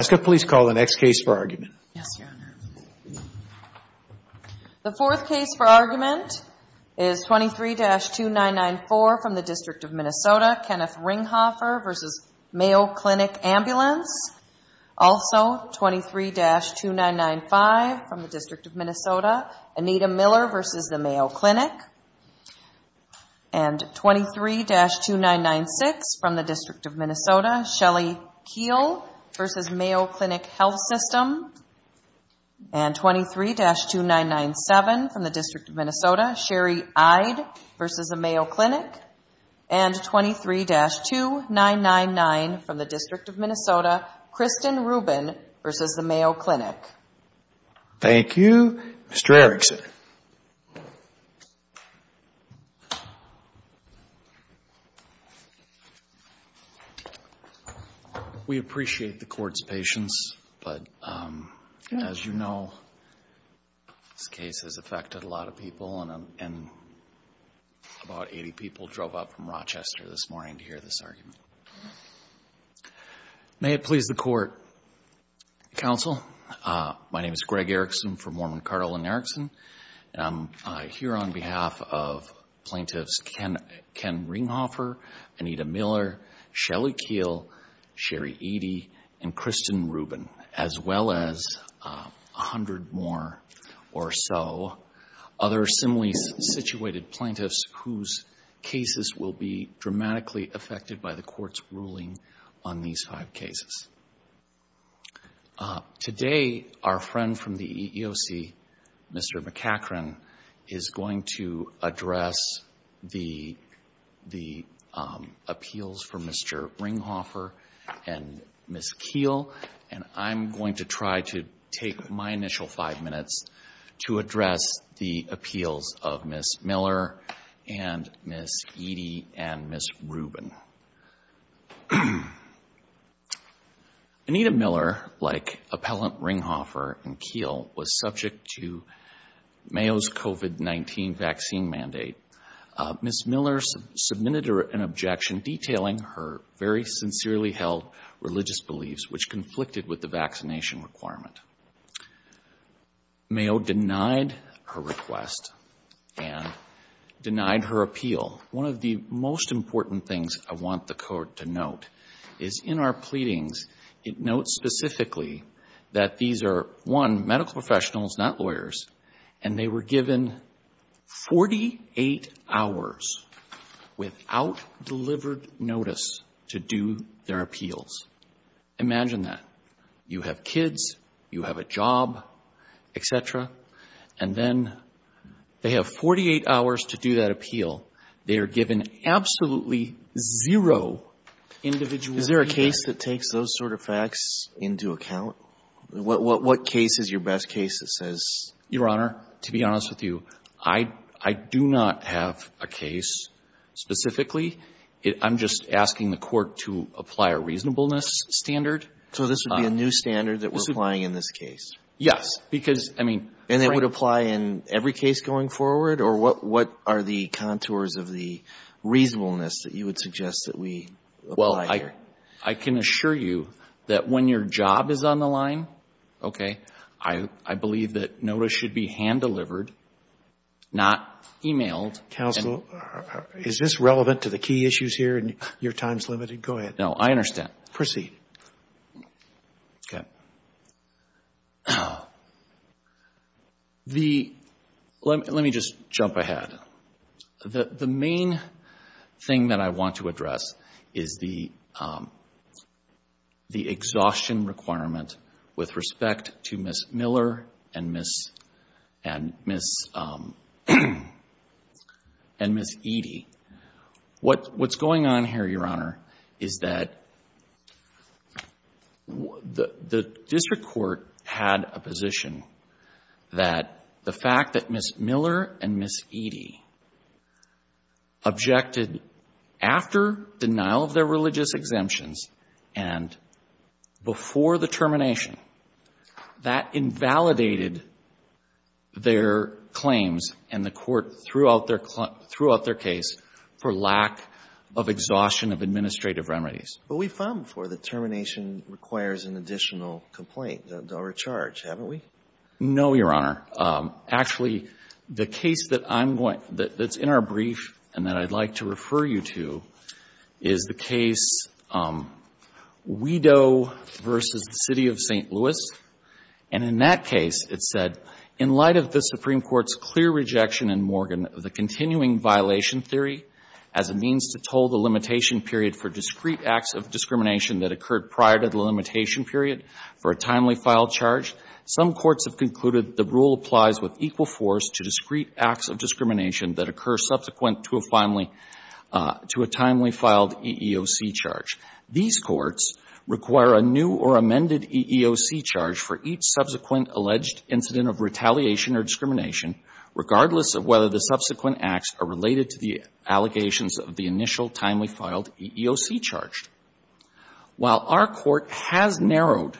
Also, 23-2995 from the District of Minnesota, Anita Miller v. the Mayo Clinic, and 23-2996 from the District of Minnesota, Shelly Keel v. Mayo Clinic Health System, and 23-2997 from the District of Minnesota, Sherry Eide v. the Mayo Clinic, and 23-2999 from the District of Minnesota, Kristen Rubin v. the Mayo Clinic. Thank you. Mr. Erickson. We appreciate the Court's patience, but as you know, this case has affected a lot of people, and about 80 people drove up from Rochester this morning to hear this argument. May it please the Court, Counsel, my name is Greg Erickson from Mormon Cardinal and Erickson, and I'm here on behalf of Plaintiffs Ken Ringhofer, Anita Miller, Shelly Keel, Sherry Eide, and Kristen Rubin, as well as 100 more or so other similarly situated plaintiffs whose cases will be dramatically affected by the court's decision. The court's ruling on these five cases. Today, our friend from the EEOC, Mr. McCachren, is going to address the appeals for Mr. Ringhofer and Ms. Keel, and I'm going to try to take my initial five minutes to address the appeals of Ms. Miller and Ms. Eide and Ms. Rubin. Anita Miller, like Appellant Ringhofer and Keel, was subject to Mayo's COVID-19 vaccine mandate. Ms. Miller submitted an objection detailing her very sincerely held religious beliefs, which conflicted with the vaccination requirement. Mayo denied her request and denied her appeal. One of the most important things I want the court to note is in our pleadings, it notes specifically that these are, one, medical professionals, not lawyers, and they were given 48 hours without delivered notice to do their appeals. Imagine that. You have kids, you have a job, et cetera, and then they have 48 hours to do that appeal. They are given absolutely zero individuality. Is there a case that takes those sort of facts into account? What case is your best case that says? Your Honor, to be honest with you, I do not have a case specifically. I'm just asking the court to apply a reasonableness standard. So this would be a new standard that we're applying in this case? Yes. Because, I mean. And it would apply in every case going forward? Or what are the contours of the reasonableness that you would suggest that we apply here? Well, I can assure you that when your job is on the line, okay, I believe that notice should be hand-delivered, not emailed. Counsel, is this relevant to the key issues here? Your time is limited. Go ahead. No, I understand. Proceed. Okay. Let me just jump ahead. The main thing that I want to address is the exhaustion requirement with respect to Ms. Miller and Ms. Eady. What's going on here, Your Honor, is that the district court had a position that the fact that Ms. Miller and Ms. Eady objected after denial of their religious exemptions and before the termination, that invalidated their claims and the court threw out their case for lack of exhaustion of administrative remedies. But we've found before that termination requires an additional complaint. They'll recharge, haven't we? No, Your Honor. Actually, the case that's in our brief and that I'd like to refer you to is the case Weedoe v. City of St. Louis. And in that case, it said, In light of the Supreme Court's clear rejection in Morgan of the continuing violation theory as a means to toll the limitation period for discrete acts of discrimination that occurred prior to the limitation period for a timely file charge, some courts have concluded the rule applies with equal force to discrete acts of discrimination that occur subsequent to a timely filed EEOC charge. These courts require a new or amended EEOC charge for each subsequent alleged incident of retaliation or discrimination, regardless of whether the subsequent acts are related to the allegations of the initial timely filed EEOC charge. While our court has narrowed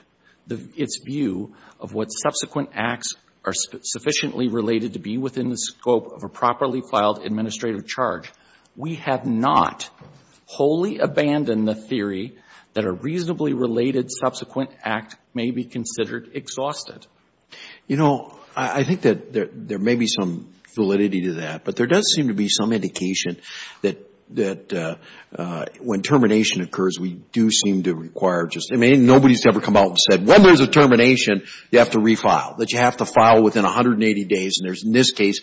its view of what subsequent acts are sufficiently related to be within the scope of a properly filed administrative charge, we have not wholly abandoned the theory that a reasonably related subsequent act may be considered exhausted. You know, I think that there may be some validity to that, but there does seem to be some indication that when termination occurs, we do seem to require just, I mean, nobody's ever come out and said, When there's a termination, you have to refile, that you have to file within 180 days. And in this case,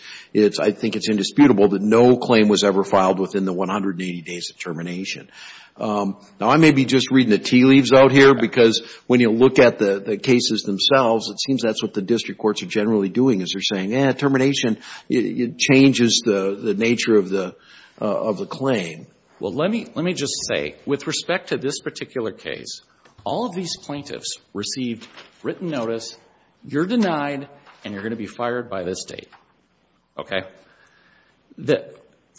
I think it's indisputable that no claim was ever filed within the 180 days of termination. Now, I may be just reading the tea leaves out here, because when you look at the cases themselves, it seems that's what the district courts are generally doing, is they're saying, Yeah, termination, it changes the nature of the claim. Well, let me just say, with respect to this particular case, all of these plaintiffs received written notice, you're denied, and you're going to be fired by this date. Okay?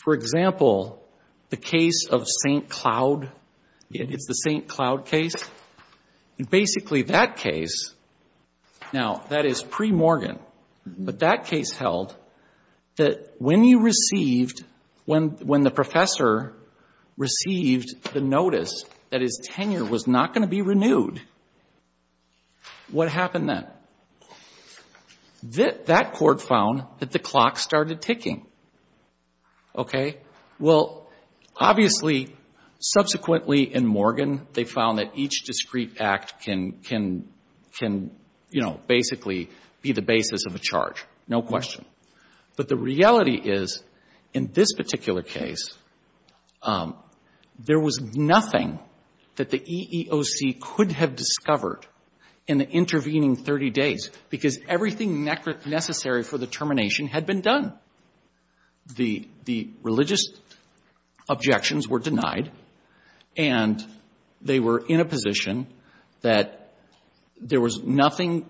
For example, the case of St. Cloud, it's the St. Cloud case. Basically, that case, now, that is pre-Morgan, but that case held that when you received, when the professor received the notice that his tenure was not going to be renewed, what happened then? That court found that the clock started ticking. Okay? Well, obviously, subsequently in Morgan, they found that each discrete act can, you know, basically be the basis of a charge, no question. But the reality is, in this particular case, there was nothing that the EEOC could have discovered in the intervening 30 days, because everything necessary for the termination had been done. The religious objections were denied, and they were in a position that there was nothing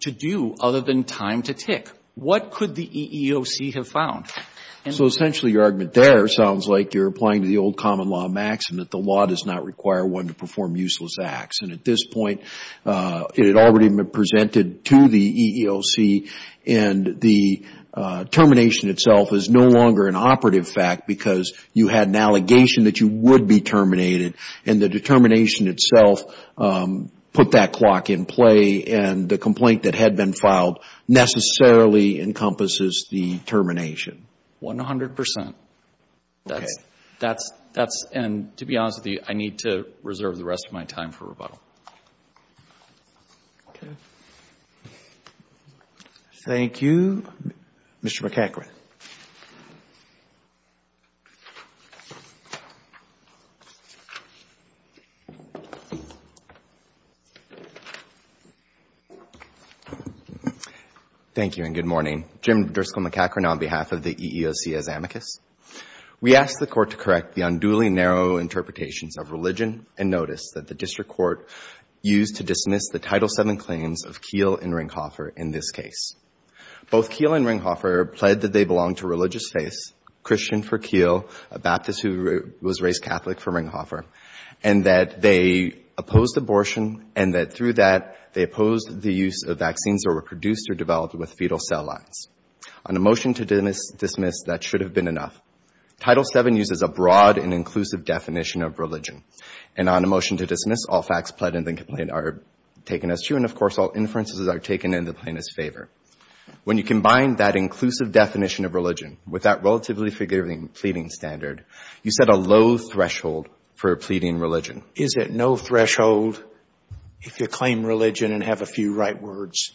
to do other than time to tick. What could the EEOC have found? So, essentially, your argument there sounds like you're applying to the old common law maxim that the law does not require one to perform useless acts. And at this point, it had already been presented to the EEOC, and the termination itself is no longer an operative fact, because you had an allegation that you would be terminated. And the determination itself put that clock in play, and the complaint that had been filed necessarily encompasses the termination. 100 percent. Okay. And to be honest with you, I need to reserve the rest of my time for rebuttal. Okay. Thank you. Mr. McEachran. Thank you, and good morning. Jim Driscoll McEachran on behalf of the EEOC as amicus. We ask the Court to correct the unduly narrow interpretations of religion and notice that the district court used to dismiss the Title VII claims of Keele and Ringhofer in this case. Both Keele and Ringhofer pled that they belonged to a religious faith, Christian for Keele, a Baptist who was raised Catholic for Ringhofer, and that they opposed abortion, and that through that, they opposed the use of vaccines that were produced or developed with fetal cell lines. On a motion to dismiss, that should have been enough. Title VII uses a broad and inclusive definition of religion. And on a motion to dismiss, all facts pled in the complaint are taken as true, and, of course, all inferences are taken in the plaintiff's favor. When you combine that inclusive definition of religion with that relatively figurative pleading standard, you set a low threshold for pleading religion. Is it no threshold if you claim religion and have a few right words?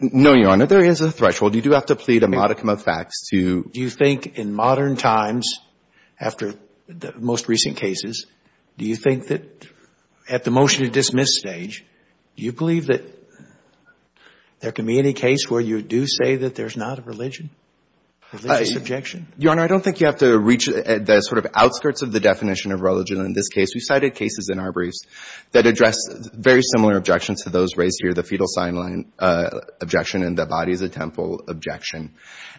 No, Your Honor. There is a threshold. You do have to plead a modicum of facts to Do you think in modern times, after the most recent cases, do you think that at the motion to dismiss stage, do you believe that there can be any case where you do say that there's not a religion, a religious objection? Your Honor, I don't think you have to reach the sort of outskirts of the definition of religion in this case. We cited cases in our briefs that address very similar objections to those raised here, the fetal sign line objection and the body of the temple objection.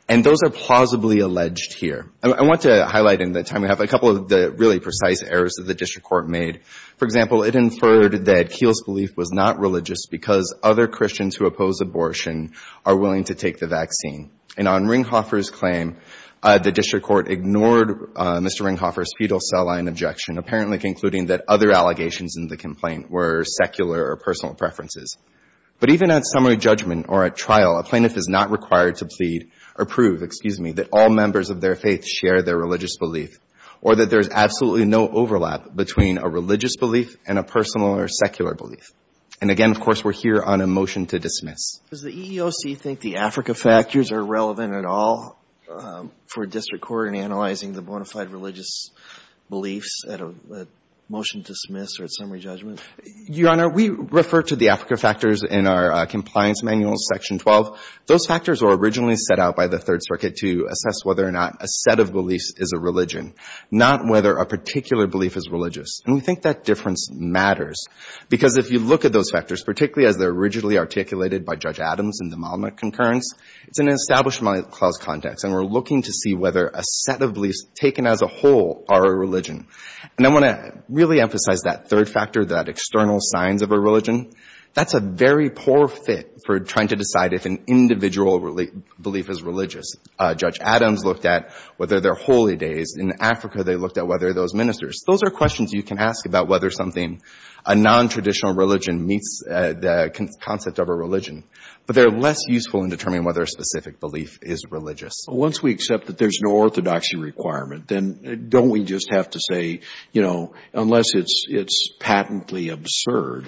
And those are plausibly alleged here. I want to highlight in the time we have a couple of the really precise errors that the district court made. For example, it inferred that Kiel's belief was not religious because other Christians who oppose abortion are willing to take the vaccine. And on Ringhofer's claim, the district court ignored Mr. Ringhofer's fetal cell line objection, apparently concluding that other allegations in the complaint were secular or personal preferences. But even at summary judgment or at trial, a plaintiff is not required to plead or prove, excuse me, that all members of their faith share their religious belief or that there is absolutely no overlap between a religious belief and a personal or secular belief. And again, of course, we're here on a motion to dismiss. Does the EEOC think the Africa factors are relevant at all for a district court in analyzing the bona fide religious beliefs at a motion to dismiss or at summary judgment? Your Honor, we refer to the Africa factors in our compliance manual, section 12. Those factors were originally set out by the Third Circuit to assess whether or not a set of beliefs is a religion, not whether a particular belief is religious. And we think that difference matters, because if you look at those factors, particularly as they're originally articulated by Judge Adams in the Monument of Concurrence, it's an establishment clause context, and we're looking to see whether a set of beliefs taken as a whole are a religion. And I want to really emphasize that third factor, that external signs of a religion. That's a very poor fit for trying to decide if an individual belief is religious. Judge Adams looked at whether they're holy days. In Africa, they looked at whether those ministers. Those are questions you can ask about whether something, a nontraditional religion meets the concept of a religion. But they're less useful in determining whether a specific belief is religious. Once we accept that there's no orthodoxy requirement, then don't we just have to say, you know, unless it's patently absurd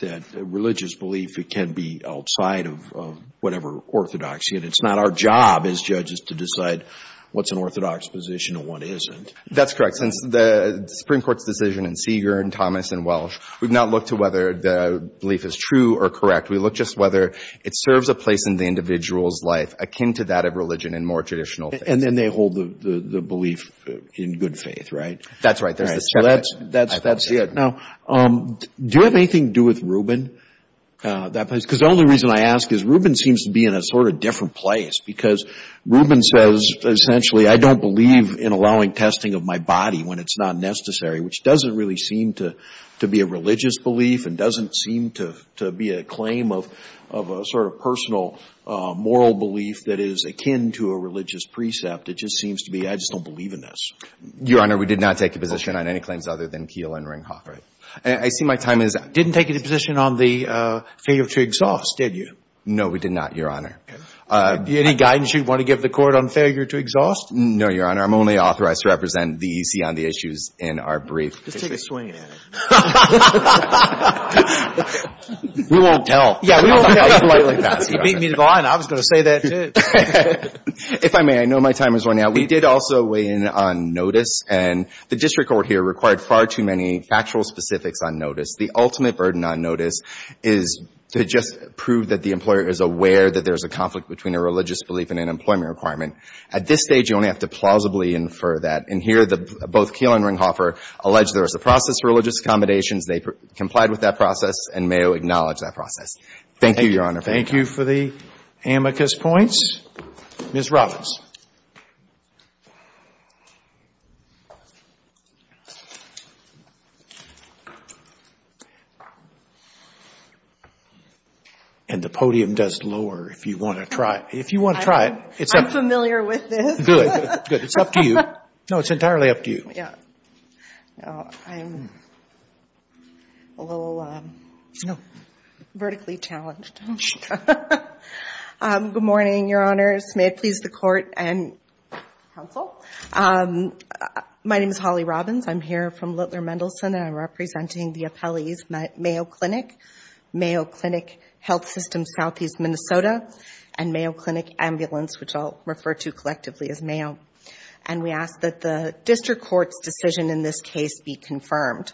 that religious belief can be outside of whatever orthodoxy, and it's not our job as judges to decide what's an orthodox position and what isn't. That's correct. Since the Supreme Court's decision in Seager and Thomas and Welsh, we've not looked to whether the belief is true or correct. We look just whether it serves a place in the individual's life akin to that of religion in more traditional faith. And then they hold the belief in good faith, right? That's right. That's it. Now, do you have anything to do with Rubin? Because the only reason I ask is Rubin seems to be in a sort of different place because Rubin says, essentially, I don't believe in allowing testing of my body when it's not necessary, which doesn't really seem to be a religious belief and doesn't seem to be a claim of a sort of personal moral belief that is akin to a religious precept. It just seems to be, I just don't believe in this. Your Honor, we did not take a position on any claims other than Keel and Ringhoff. I see my time is up. You didn't take a position on the failure to exhaust, did you? No, we did not, Your Honor. Any guidance you want to give the Court on failure to exhaust? No, Your Honor. I'm only authorized to represent the EC on the issues in our brief. Just take a swing at it. We won't tell. Yeah, we won't tell. You beat me to the line. I was going to say that, too. If I may, I know my time has run out. We did also weigh in on notice, and the district court here required far too many factual specifics on notice. The ultimate burden on notice is to just prove that the employer is aware that there is a conflict between a religious belief and an employment requirement. At this stage, you only have to plausibly infer that. And here, both Keel and Ringhoffer allege there is a process for religious accommodations. They complied with that process and may acknowledge that process. Thank you, Your Honor. Thank you for the amicus points. Ms. Robins. And the podium does lower if you want to try it. If you want to try it, it's up to you. I'm familiar with this. Good. It's up to you. No, it's entirely up to you. Yeah. I'm a little vertically challenged. Good morning, Your Honors. May it please the court and counsel. My name is Holly Robins. I'm here from Littler Mendelson, and I'm representing the appellees, Mayo Clinic, Mayo Clinic Health System, Southeast Minnesota, and Mayo Clinic Ambulance, which I'll refer to collectively as Mayo. And we ask that the district court's decision in this case be confirmed.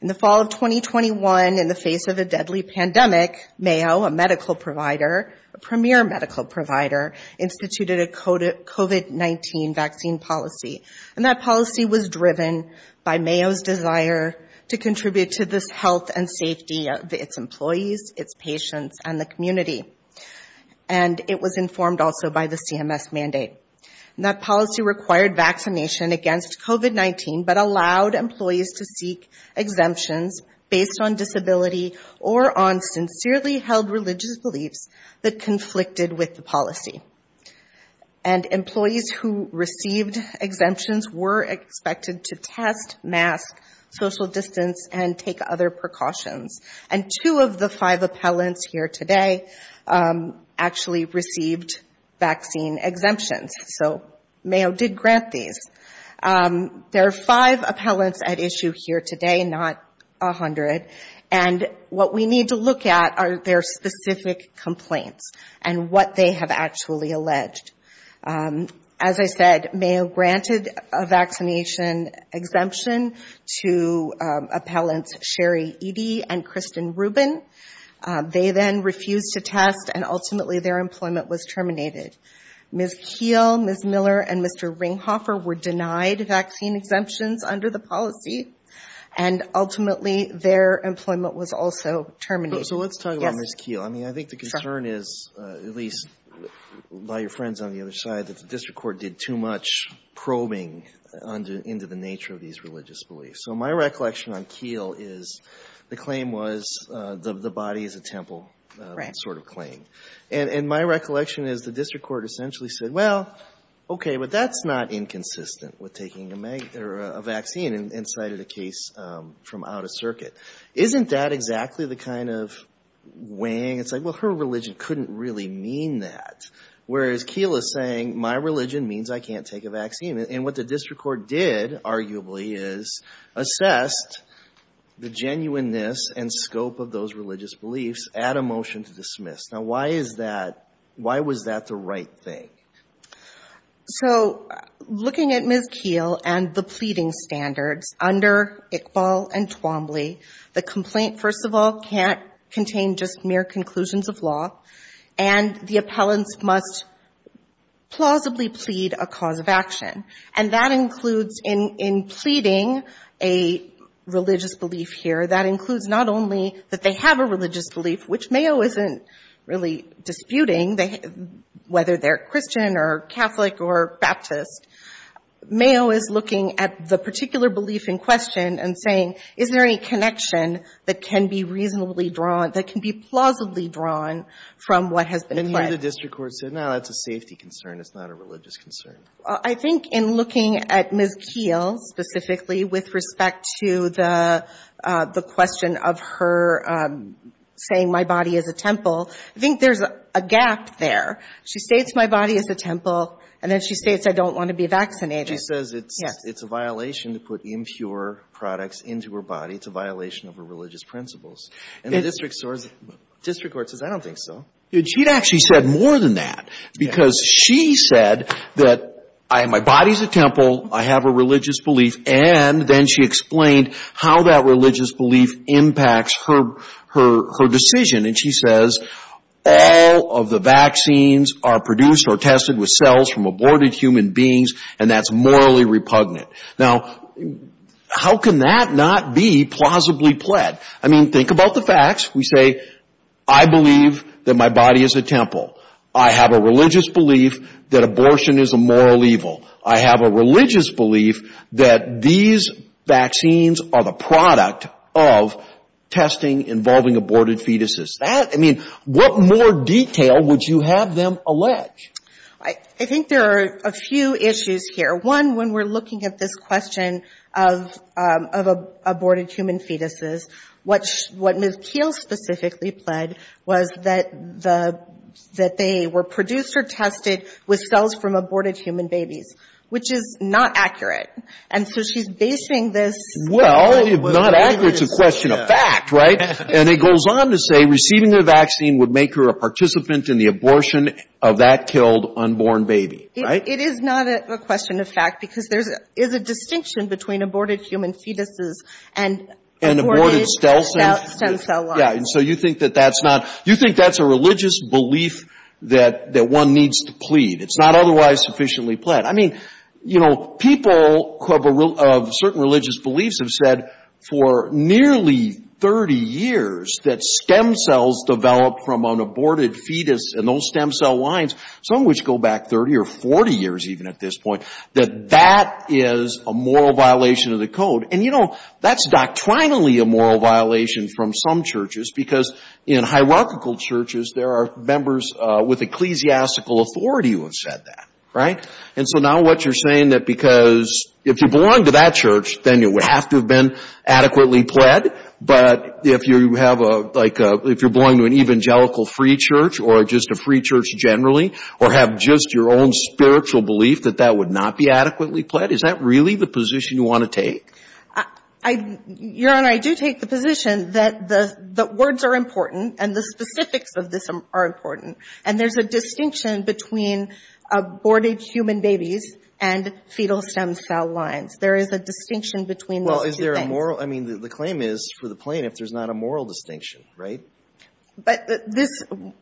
In the fall of 2021, in the face of a deadly pandemic, Mayo, a medical provider, a premier medical provider, instituted a COVID-19 vaccine policy. And that policy was driven by Mayo's desire to contribute to this health and safety of its employees, its patients, and the community. And it was informed also by the CMS mandate. And that policy required vaccination against COVID-19, but allowed employees to seek exemptions based on disability or on sincerely held religious beliefs that conflicted with the policy. And employees who received exemptions were expected to test, mask, social distance, and take other precautions. And two of the five appellants here today actually received vaccine exemptions. So Mayo did grant these. There are five appellants at issue here today, not 100. And what we need to look at are their specific complaints and what they have actually alleged. As I said, Mayo granted a vaccination exemption to appellants Sherry Eady and Kristen Rubin. They then refused to test, and ultimately their employment was terminated. Ms. Kiel, Ms. Miller, and Mr. Ringhofer were denied vaccine exemptions under the policy, and ultimately their employment was also terminated. So let's talk about Ms. Kiel. I mean, I think the concern is, at least by your friends on the other side, that the district court did too much probing into the nature of these religious beliefs. So my recollection on Kiel is the claim was the body is a temple sort of claim. And my recollection is the district court essentially said, well, okay, but that's not inconsistent with taking a vaccine and cited a case from out of circuit. Isn't that exactly the kind of wang? It's like, well, her religion couldn't really mean that. Whereas Kiel is saying my religion means I can't take a vaccine. And what the district court did, arguably, is assessed the genuineness and scope of those religious beliefs at a motion to dismiss. Now, why is that? Why was that the right thing? So looking at Ms. Kiel and the pleading standards under Iqbal and Twombly, the complaint, first of all, can't contain just mere conclusions of law. And the appellants must plausibly plead a cause of action. And that includes in pleading a religious belief here, that includes not only that they have a religious belief, which Mayo isn't really disputing, whether they're Christian or Catholic or Baptist. Mayo is looking at the particular belief in question and saying, is there any connection that can be reasonably drawn, that can be plausibly drawn from what has been pledged? And here the district court said, no, that's a safety concern. It's not a religious concern. I think in looking at Ms. Kiel specifically with respect to the question of her saying my body is a temple, I think there's a gap there. She states my body is a temple, and then she states I don't want to be vaccinated. She says it's a violation to put impure products into her body. It's a violation of her religious principles. And the district court says, I don't think so. She actually said more than that, because she said that my body is a temple, I have a religious belief, and then she explained how that religious belief impacts her decision. And she says all of the vaccines are produced or tested with cells from aborted human beings, and that's morally repugnant. Now, how can that not be plausibly pled? I mean, think about the facts. We say I believe that my body is a temple. I have a religious belief that abortion is a moral evil. I have a religious belief that these vaccines are the product of testing involving aborted fetuses. I mean, what more detail would you have them allege? I think there are a few issues here. One, when we're looking at this question of aborted human fetuses, what Ms. Keele specifically pled was that they were produced or tested with cells from aborted human babies, which is not accurate. And so she's basing this. Well, if not accurate, it's a question of fact, right? And it goes on to say receiving the vaccine would make her a participant in the abortion of that killed unborn baby, right? It is not a question of fact because there is a distinction between aborted human fetuses and aborted stem cell lines. And so you think that that's not — you think that's a religious belief that one needs to plead. It's not otherwise sufficiently pled. I mean, you know, people of certain religious beliefs have said for nearly 30 years that stem cells developed from an aborted fetus and those stem cell lines, some which go back 30 or 40 years even at this point, that that is a moral violation of the code. And, you know, that's doctrinally a moral violation from some churches because in hierarchical churches there are members with ecclesiastical authority who have said that, right? And so now what you're saying that because if you belong to that church, then you would have to have been adequately pled, but if you have a — like if you're going to an evangelical free church or just a free church generally or have just your own spiritual belief that that would not be adequately pled, is that really the position you want to take? Your Honor, I do take the position that the words are important and the specifics of this are important, and there's a distinction between aborted human babies and fetal stem cell lines. There is a distinction between those two things. Well, is there a moral — I mean, the claim is for the plaintiff there's not a moral distinction, right? But this,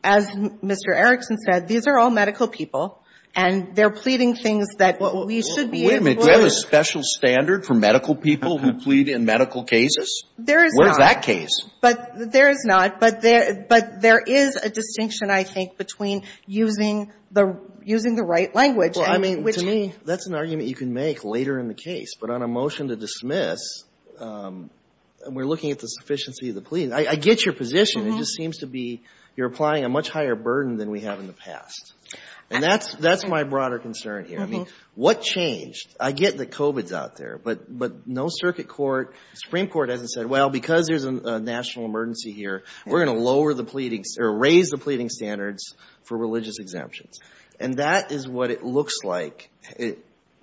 as Mr. Erickson said, these are all medical people, and they're pleading things that we should be able to — Wait a minute. Do you have a special standard for medical people who plead in medical cases? There is not. Where's that case? There is not. But there is a distinction, I think, between using the right language and — Well, I mean, to me, that's an argument you can make later in the case. But on a motion to dismiss, we're looking at the sufficiency of the plea. I get your position. It just seems to be you're applying a much higher burden than we have in the past. And that's my broader concern here. I mean, what changed? I get that COVID's out there, but no circuit court, Supreme Court hasn't said, well, because there's a national emergency here, we're going to lower the pleadings or raise the pleading standards for religious exemptions. And that is what it looks like,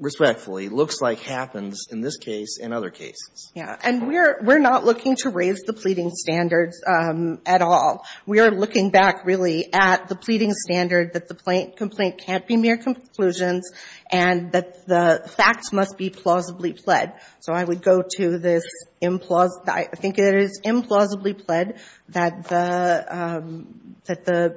respectfully, looks like happens in this case and other cases. Yeah. And we're not looking to raise the pleading standards at all. We are looking back, really, at the pleading standard that the complaint can't be mere conclusions and that the facts must be plausibly pled. So I would go to this — I think it is implausibly pled that the — that the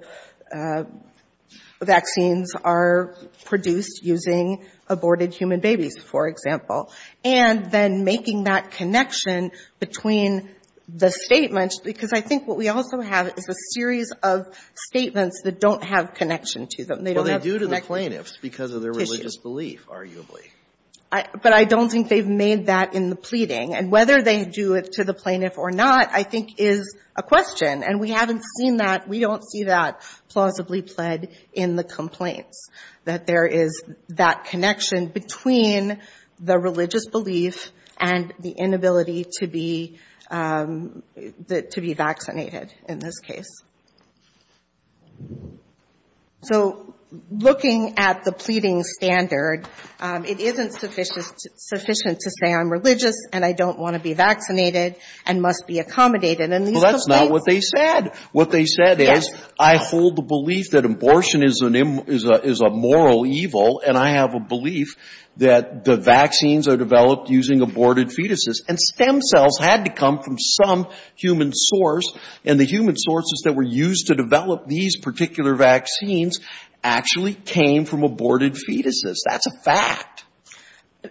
vaccines are produced using aborted human babies, for example. And then making that connection between the statements, because I think what we also have is a series of statements that don't have connection to them. They don't have — Well, they do to the plaintiffs because of their religious belief, arguably. But I don't think they've made that in the pleading. And whether they do it to the plaintiff or not, I think, is a question. And we haven't seen that. We don't see that plausibly pled in the complaints, that there is that connection between the religious belief and the inability to be — to be vaccinated in this case. So looking at the pleading standard, it isn't sufficient to say I'm religious and I don't want to be vaccinated and must be accommodated. And these complaints — Well, that's not what they said. What they said is, I hold the belief that abortion is an — is a moral evil, and I have a belief that the vaccines are developed using aborted fetuses. And stem cells had to come from some human source. And the human sources that were used to develop these particular vaccines actually came from aborted fetuses. That's a fact.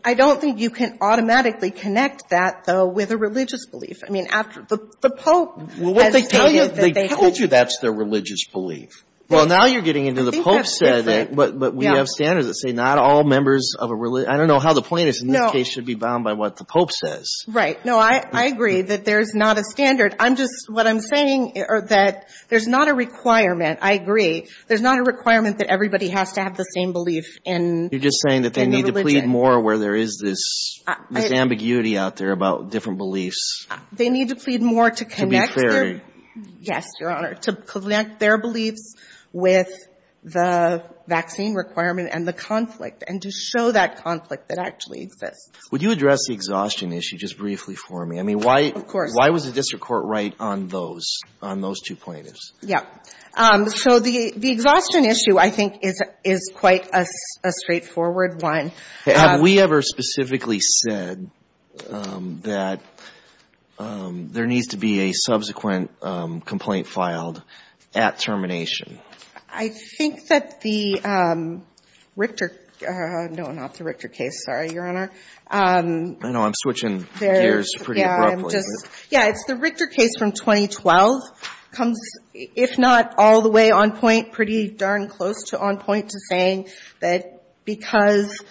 I don't think you can automatically connect that, though, with a religious belief. I mean, after — the Pope has stated that they have — Well, what they tell you — they told you that's their religious belief. Well, now you're getting into the Pope said that — I think that's different. Yeah. But we have standards that say not all members of a — I don't know how the plaintiffs in this case should be bound by what the Pope says. Right. No, I agree that there's not a standard. I'm just — what I'm saying that there's not a requirement. I agree. There's not a requirement that everybody has to have the same belief in — You're just saying that they need to plead more where there is this ambiguity out there about different beliefs. They need to plead more to connect their — To be fair. Yes, Your Honor, to connect their beliefs with the vaccine requirement and the conflict and to show that conflict that actually exists. Would you address the exhaustion issue just briefly for me? I mean, why — Of course. Why was the district court right on those — on those two plaintiffs? Yeah. So the exhaustion issue, I think, is quite a straightforward one. Have we ever specifically said that there needs to be a subsequent complaint filed at termination? I think that the Richter — no, not the Richter case, sorry, Your Honor. I know. I'm switching gears pretty abruptly. Yeah, I'm just — yeah, it's the Richter case from 2012 comes, if not all the way on point, pretty darn close to on point to saying that because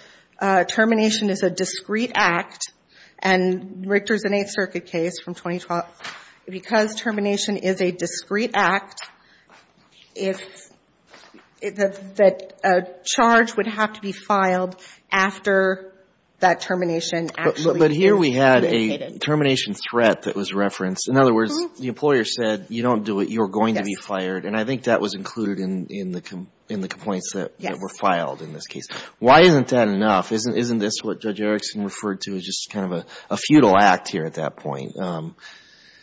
termination is a discrete act, and Richter's an Eighth Circuit case from 2012, because termination is a discrete act, if — that a charge would have to be filed after that termination actually is indicated. But here we had a termination threat that was referenced. In other words, the employer said, you don't do it, you're going to be fired. Yes. And I think that was included in the complaints that were filed in this case. Yes. Why isn't that enough? Isn't this what Judge Erickson referred to as just kind of a futile act here at that point?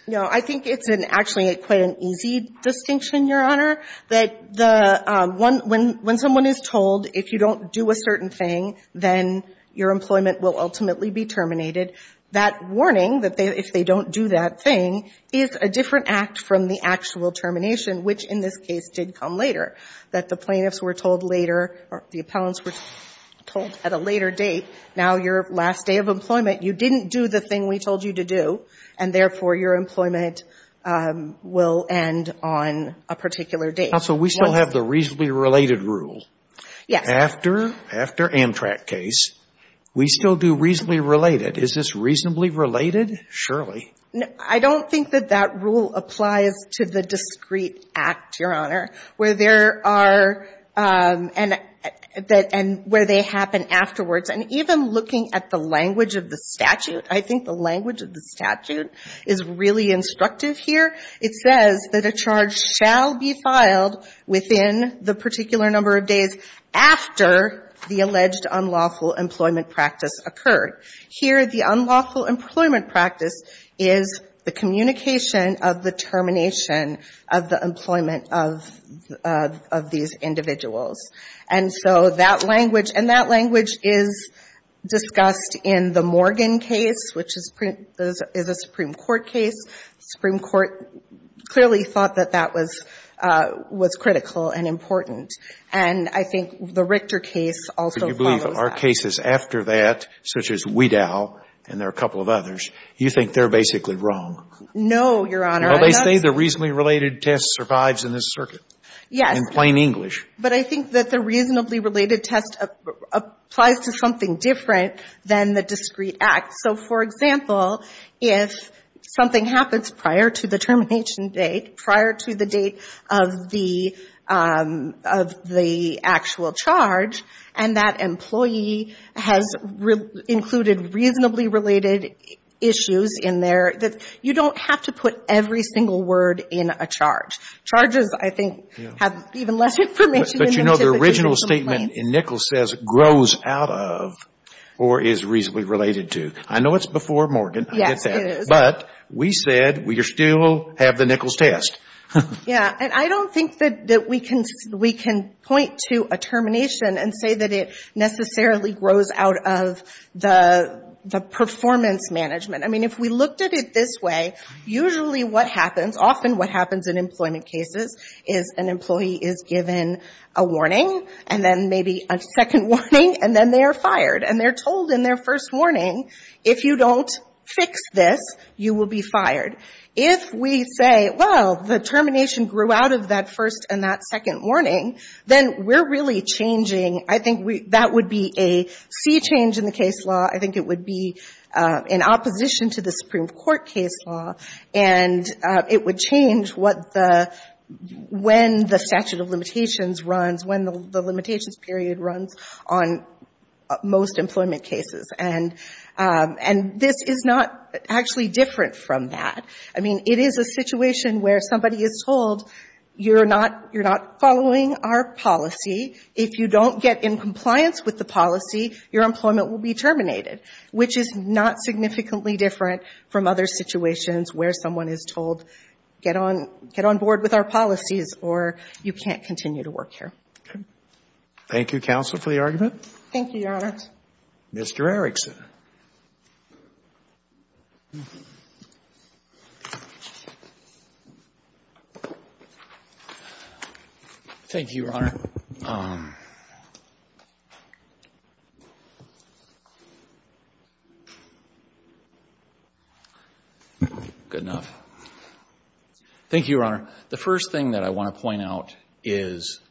No, I think it's actually quite an easy distinction, Your Honor, that the — when someone is told if you don't do a certain thing, then your employment will ultimately be terminated. That warning, that if they don't do that thing, is a different act from the actual termination, which in this case did come later. That the plaintiffs were told later — or the appellants were told at a later date, now your last day of employment, you didn't do the thing we told you to do, and therefore your employment will end on a particular date. Counsel, we still have the reasonably related rule. Yes. After — after Amtrak case, we still do reasonably related. Is this reasonably related? Surely. No, I don't think that that rule applies to the discrete act, Your Honor, where there are — and where they happen afterwards. And even looking at the language of the statute, I think the language of the statute is really instructive here. It says that a charge shall be filed within the particular number of days after the alleged unlawful employment practice occurred. Here the unlawful employment practice is the communication of the termination of the employment of these individuals. And so that language — and that language is discussed in the Morgan case, which is a Supreme Court case. The Supreme Court clearly thought that that was critical and important. And I think the Richter case also follows that. Do you believe our cases after that, such as Wedow and there are a couple of others, you think they're basically wrong? No, Your Honor. Well, they say the reasonably related test survives in this circuit. Yes. In plain English. But I think that the reasonably related test applies to something different than the discrete act. So, for example, if something happens prior to the termination date, prior to the date of the actual charge, and that employee has included reasonably related issues in there, you don't have to put every single word in a charge. Charges, I think, have even less information. But, you know, the original statement in Nichols says grows out of or is reasonably related to. I know it's before Morgan. Yes, it is. But we said we still have the Nichols test. Yeah. And I don't think that we can point to a termination and say that it necessarily grows out of the performance management. I mean, if we looked at it this way, usually what happens, often what happens in employment cases is an employee is given a warning, and then maybe a second warning, and then they are fired. And they're told in their first warning, if you don't fix this, you will be fired. If we say, well, the termination grew out of that first and that second warning, then we're really changing. I think that would be a sea change in the case law. I think it would be in opposition to the Supreme Court case law, and it would change when the statute of limitations runs, when the limitations period runs on most employment cases. And this is not actually different from that. I mean, it is a situation where somebody is told, you're not following our policy. If you don't get in compliance with the policy, your employment will be terminated, which is not significantly different from other situations where someone is told, get on board with our policies, or you can't continue to work here. Okay. Thank you, counsel, for the argument. Thank you, Your Honor. Mr. Erickson. Thank you, Your Honor. Good enough. Thank you, Your Honor. The first thing that I want to point out is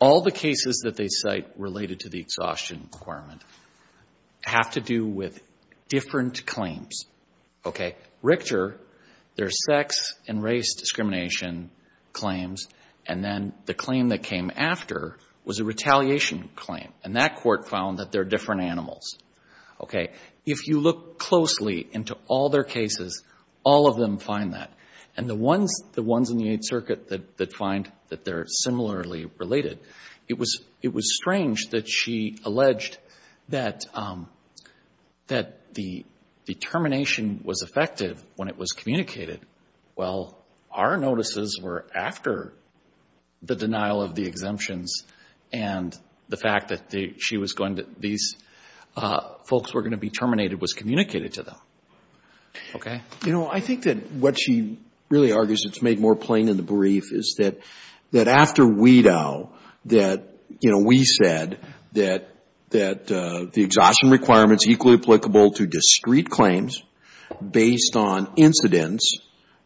all the cases that they cite related to the exhaustion requirement have to do with different claims. Okay. Richter, their sex and race discrimination claims, and then the claim that came after was a retaliation claim, and that court found that they're different animals. Okay. If you look closely into all their cases, all of them find that. And the ones in the Eighth Circuit that find that they're similarly related, it was strange that she alleged that the termination was effective when it was communicated. Well, our notices were after the denial of the exemptions, and the fact that these folks were going to be terminated was communicated to them. Okay. You know, I think that what she really argues, it's made more plain in the brief, is that after we know that, you know, we said that the exhaustion requirement is equally applicable to discrete claims based on incidents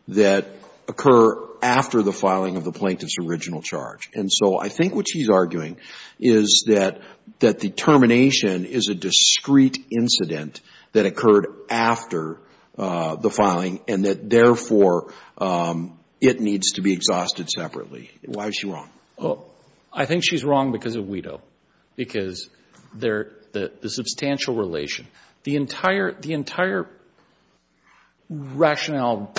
that occur after the filing of the plaintiff's original charge. And so I think what she's arguing is that the termination is a discrete incident that occurred after the filing, and that, therefore, it needs to be exhausted separately. Why is she wrong? I think she's wrong because of WETO, because the substantial relation. The entire rationale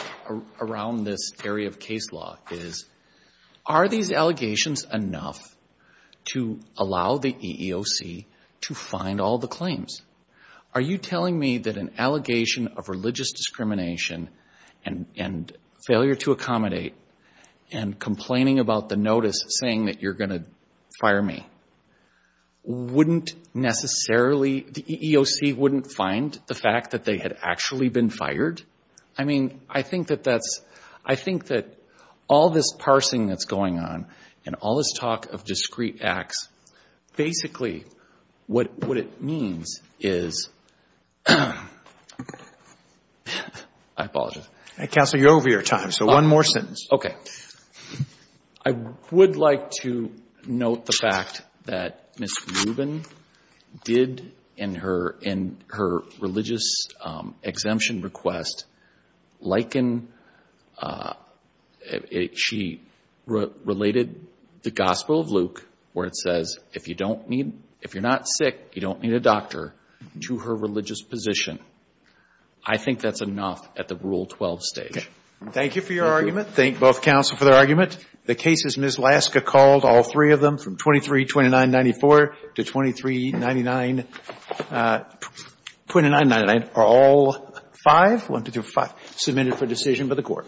around this area of case law is, are these allegations enough to allow the EEOC to find all the claims? Are you telling me that an allegation of religious discrimination and failure to accommodate and complaining about the notice saying that you're going to fire me wouldn't necessarily, the EEOC wouldn't find the fact that they had actually been fired? I mean, I think that that's, I think that all this parsing that's going on and all this talk of discrete acts, basically what it means is, I apologize. Counsel, you're over your time. So one more sentence. Okay. I would like to note the fact that Ms. Rubin did in her religious exemption request liken, she related the Gospel of Luke where it says if you don't need, if you're not sick, you don't need a doctor, to her religious position. I think that's enough at the Rule 12 stage. Thank you for your argument. Thank both counsel for their argument. The cases Ms. Laska called, all three of them, from 232994 to 2399, 2999, are all five, one, two, three, four, five, submitted for decision by the Court. Thank you.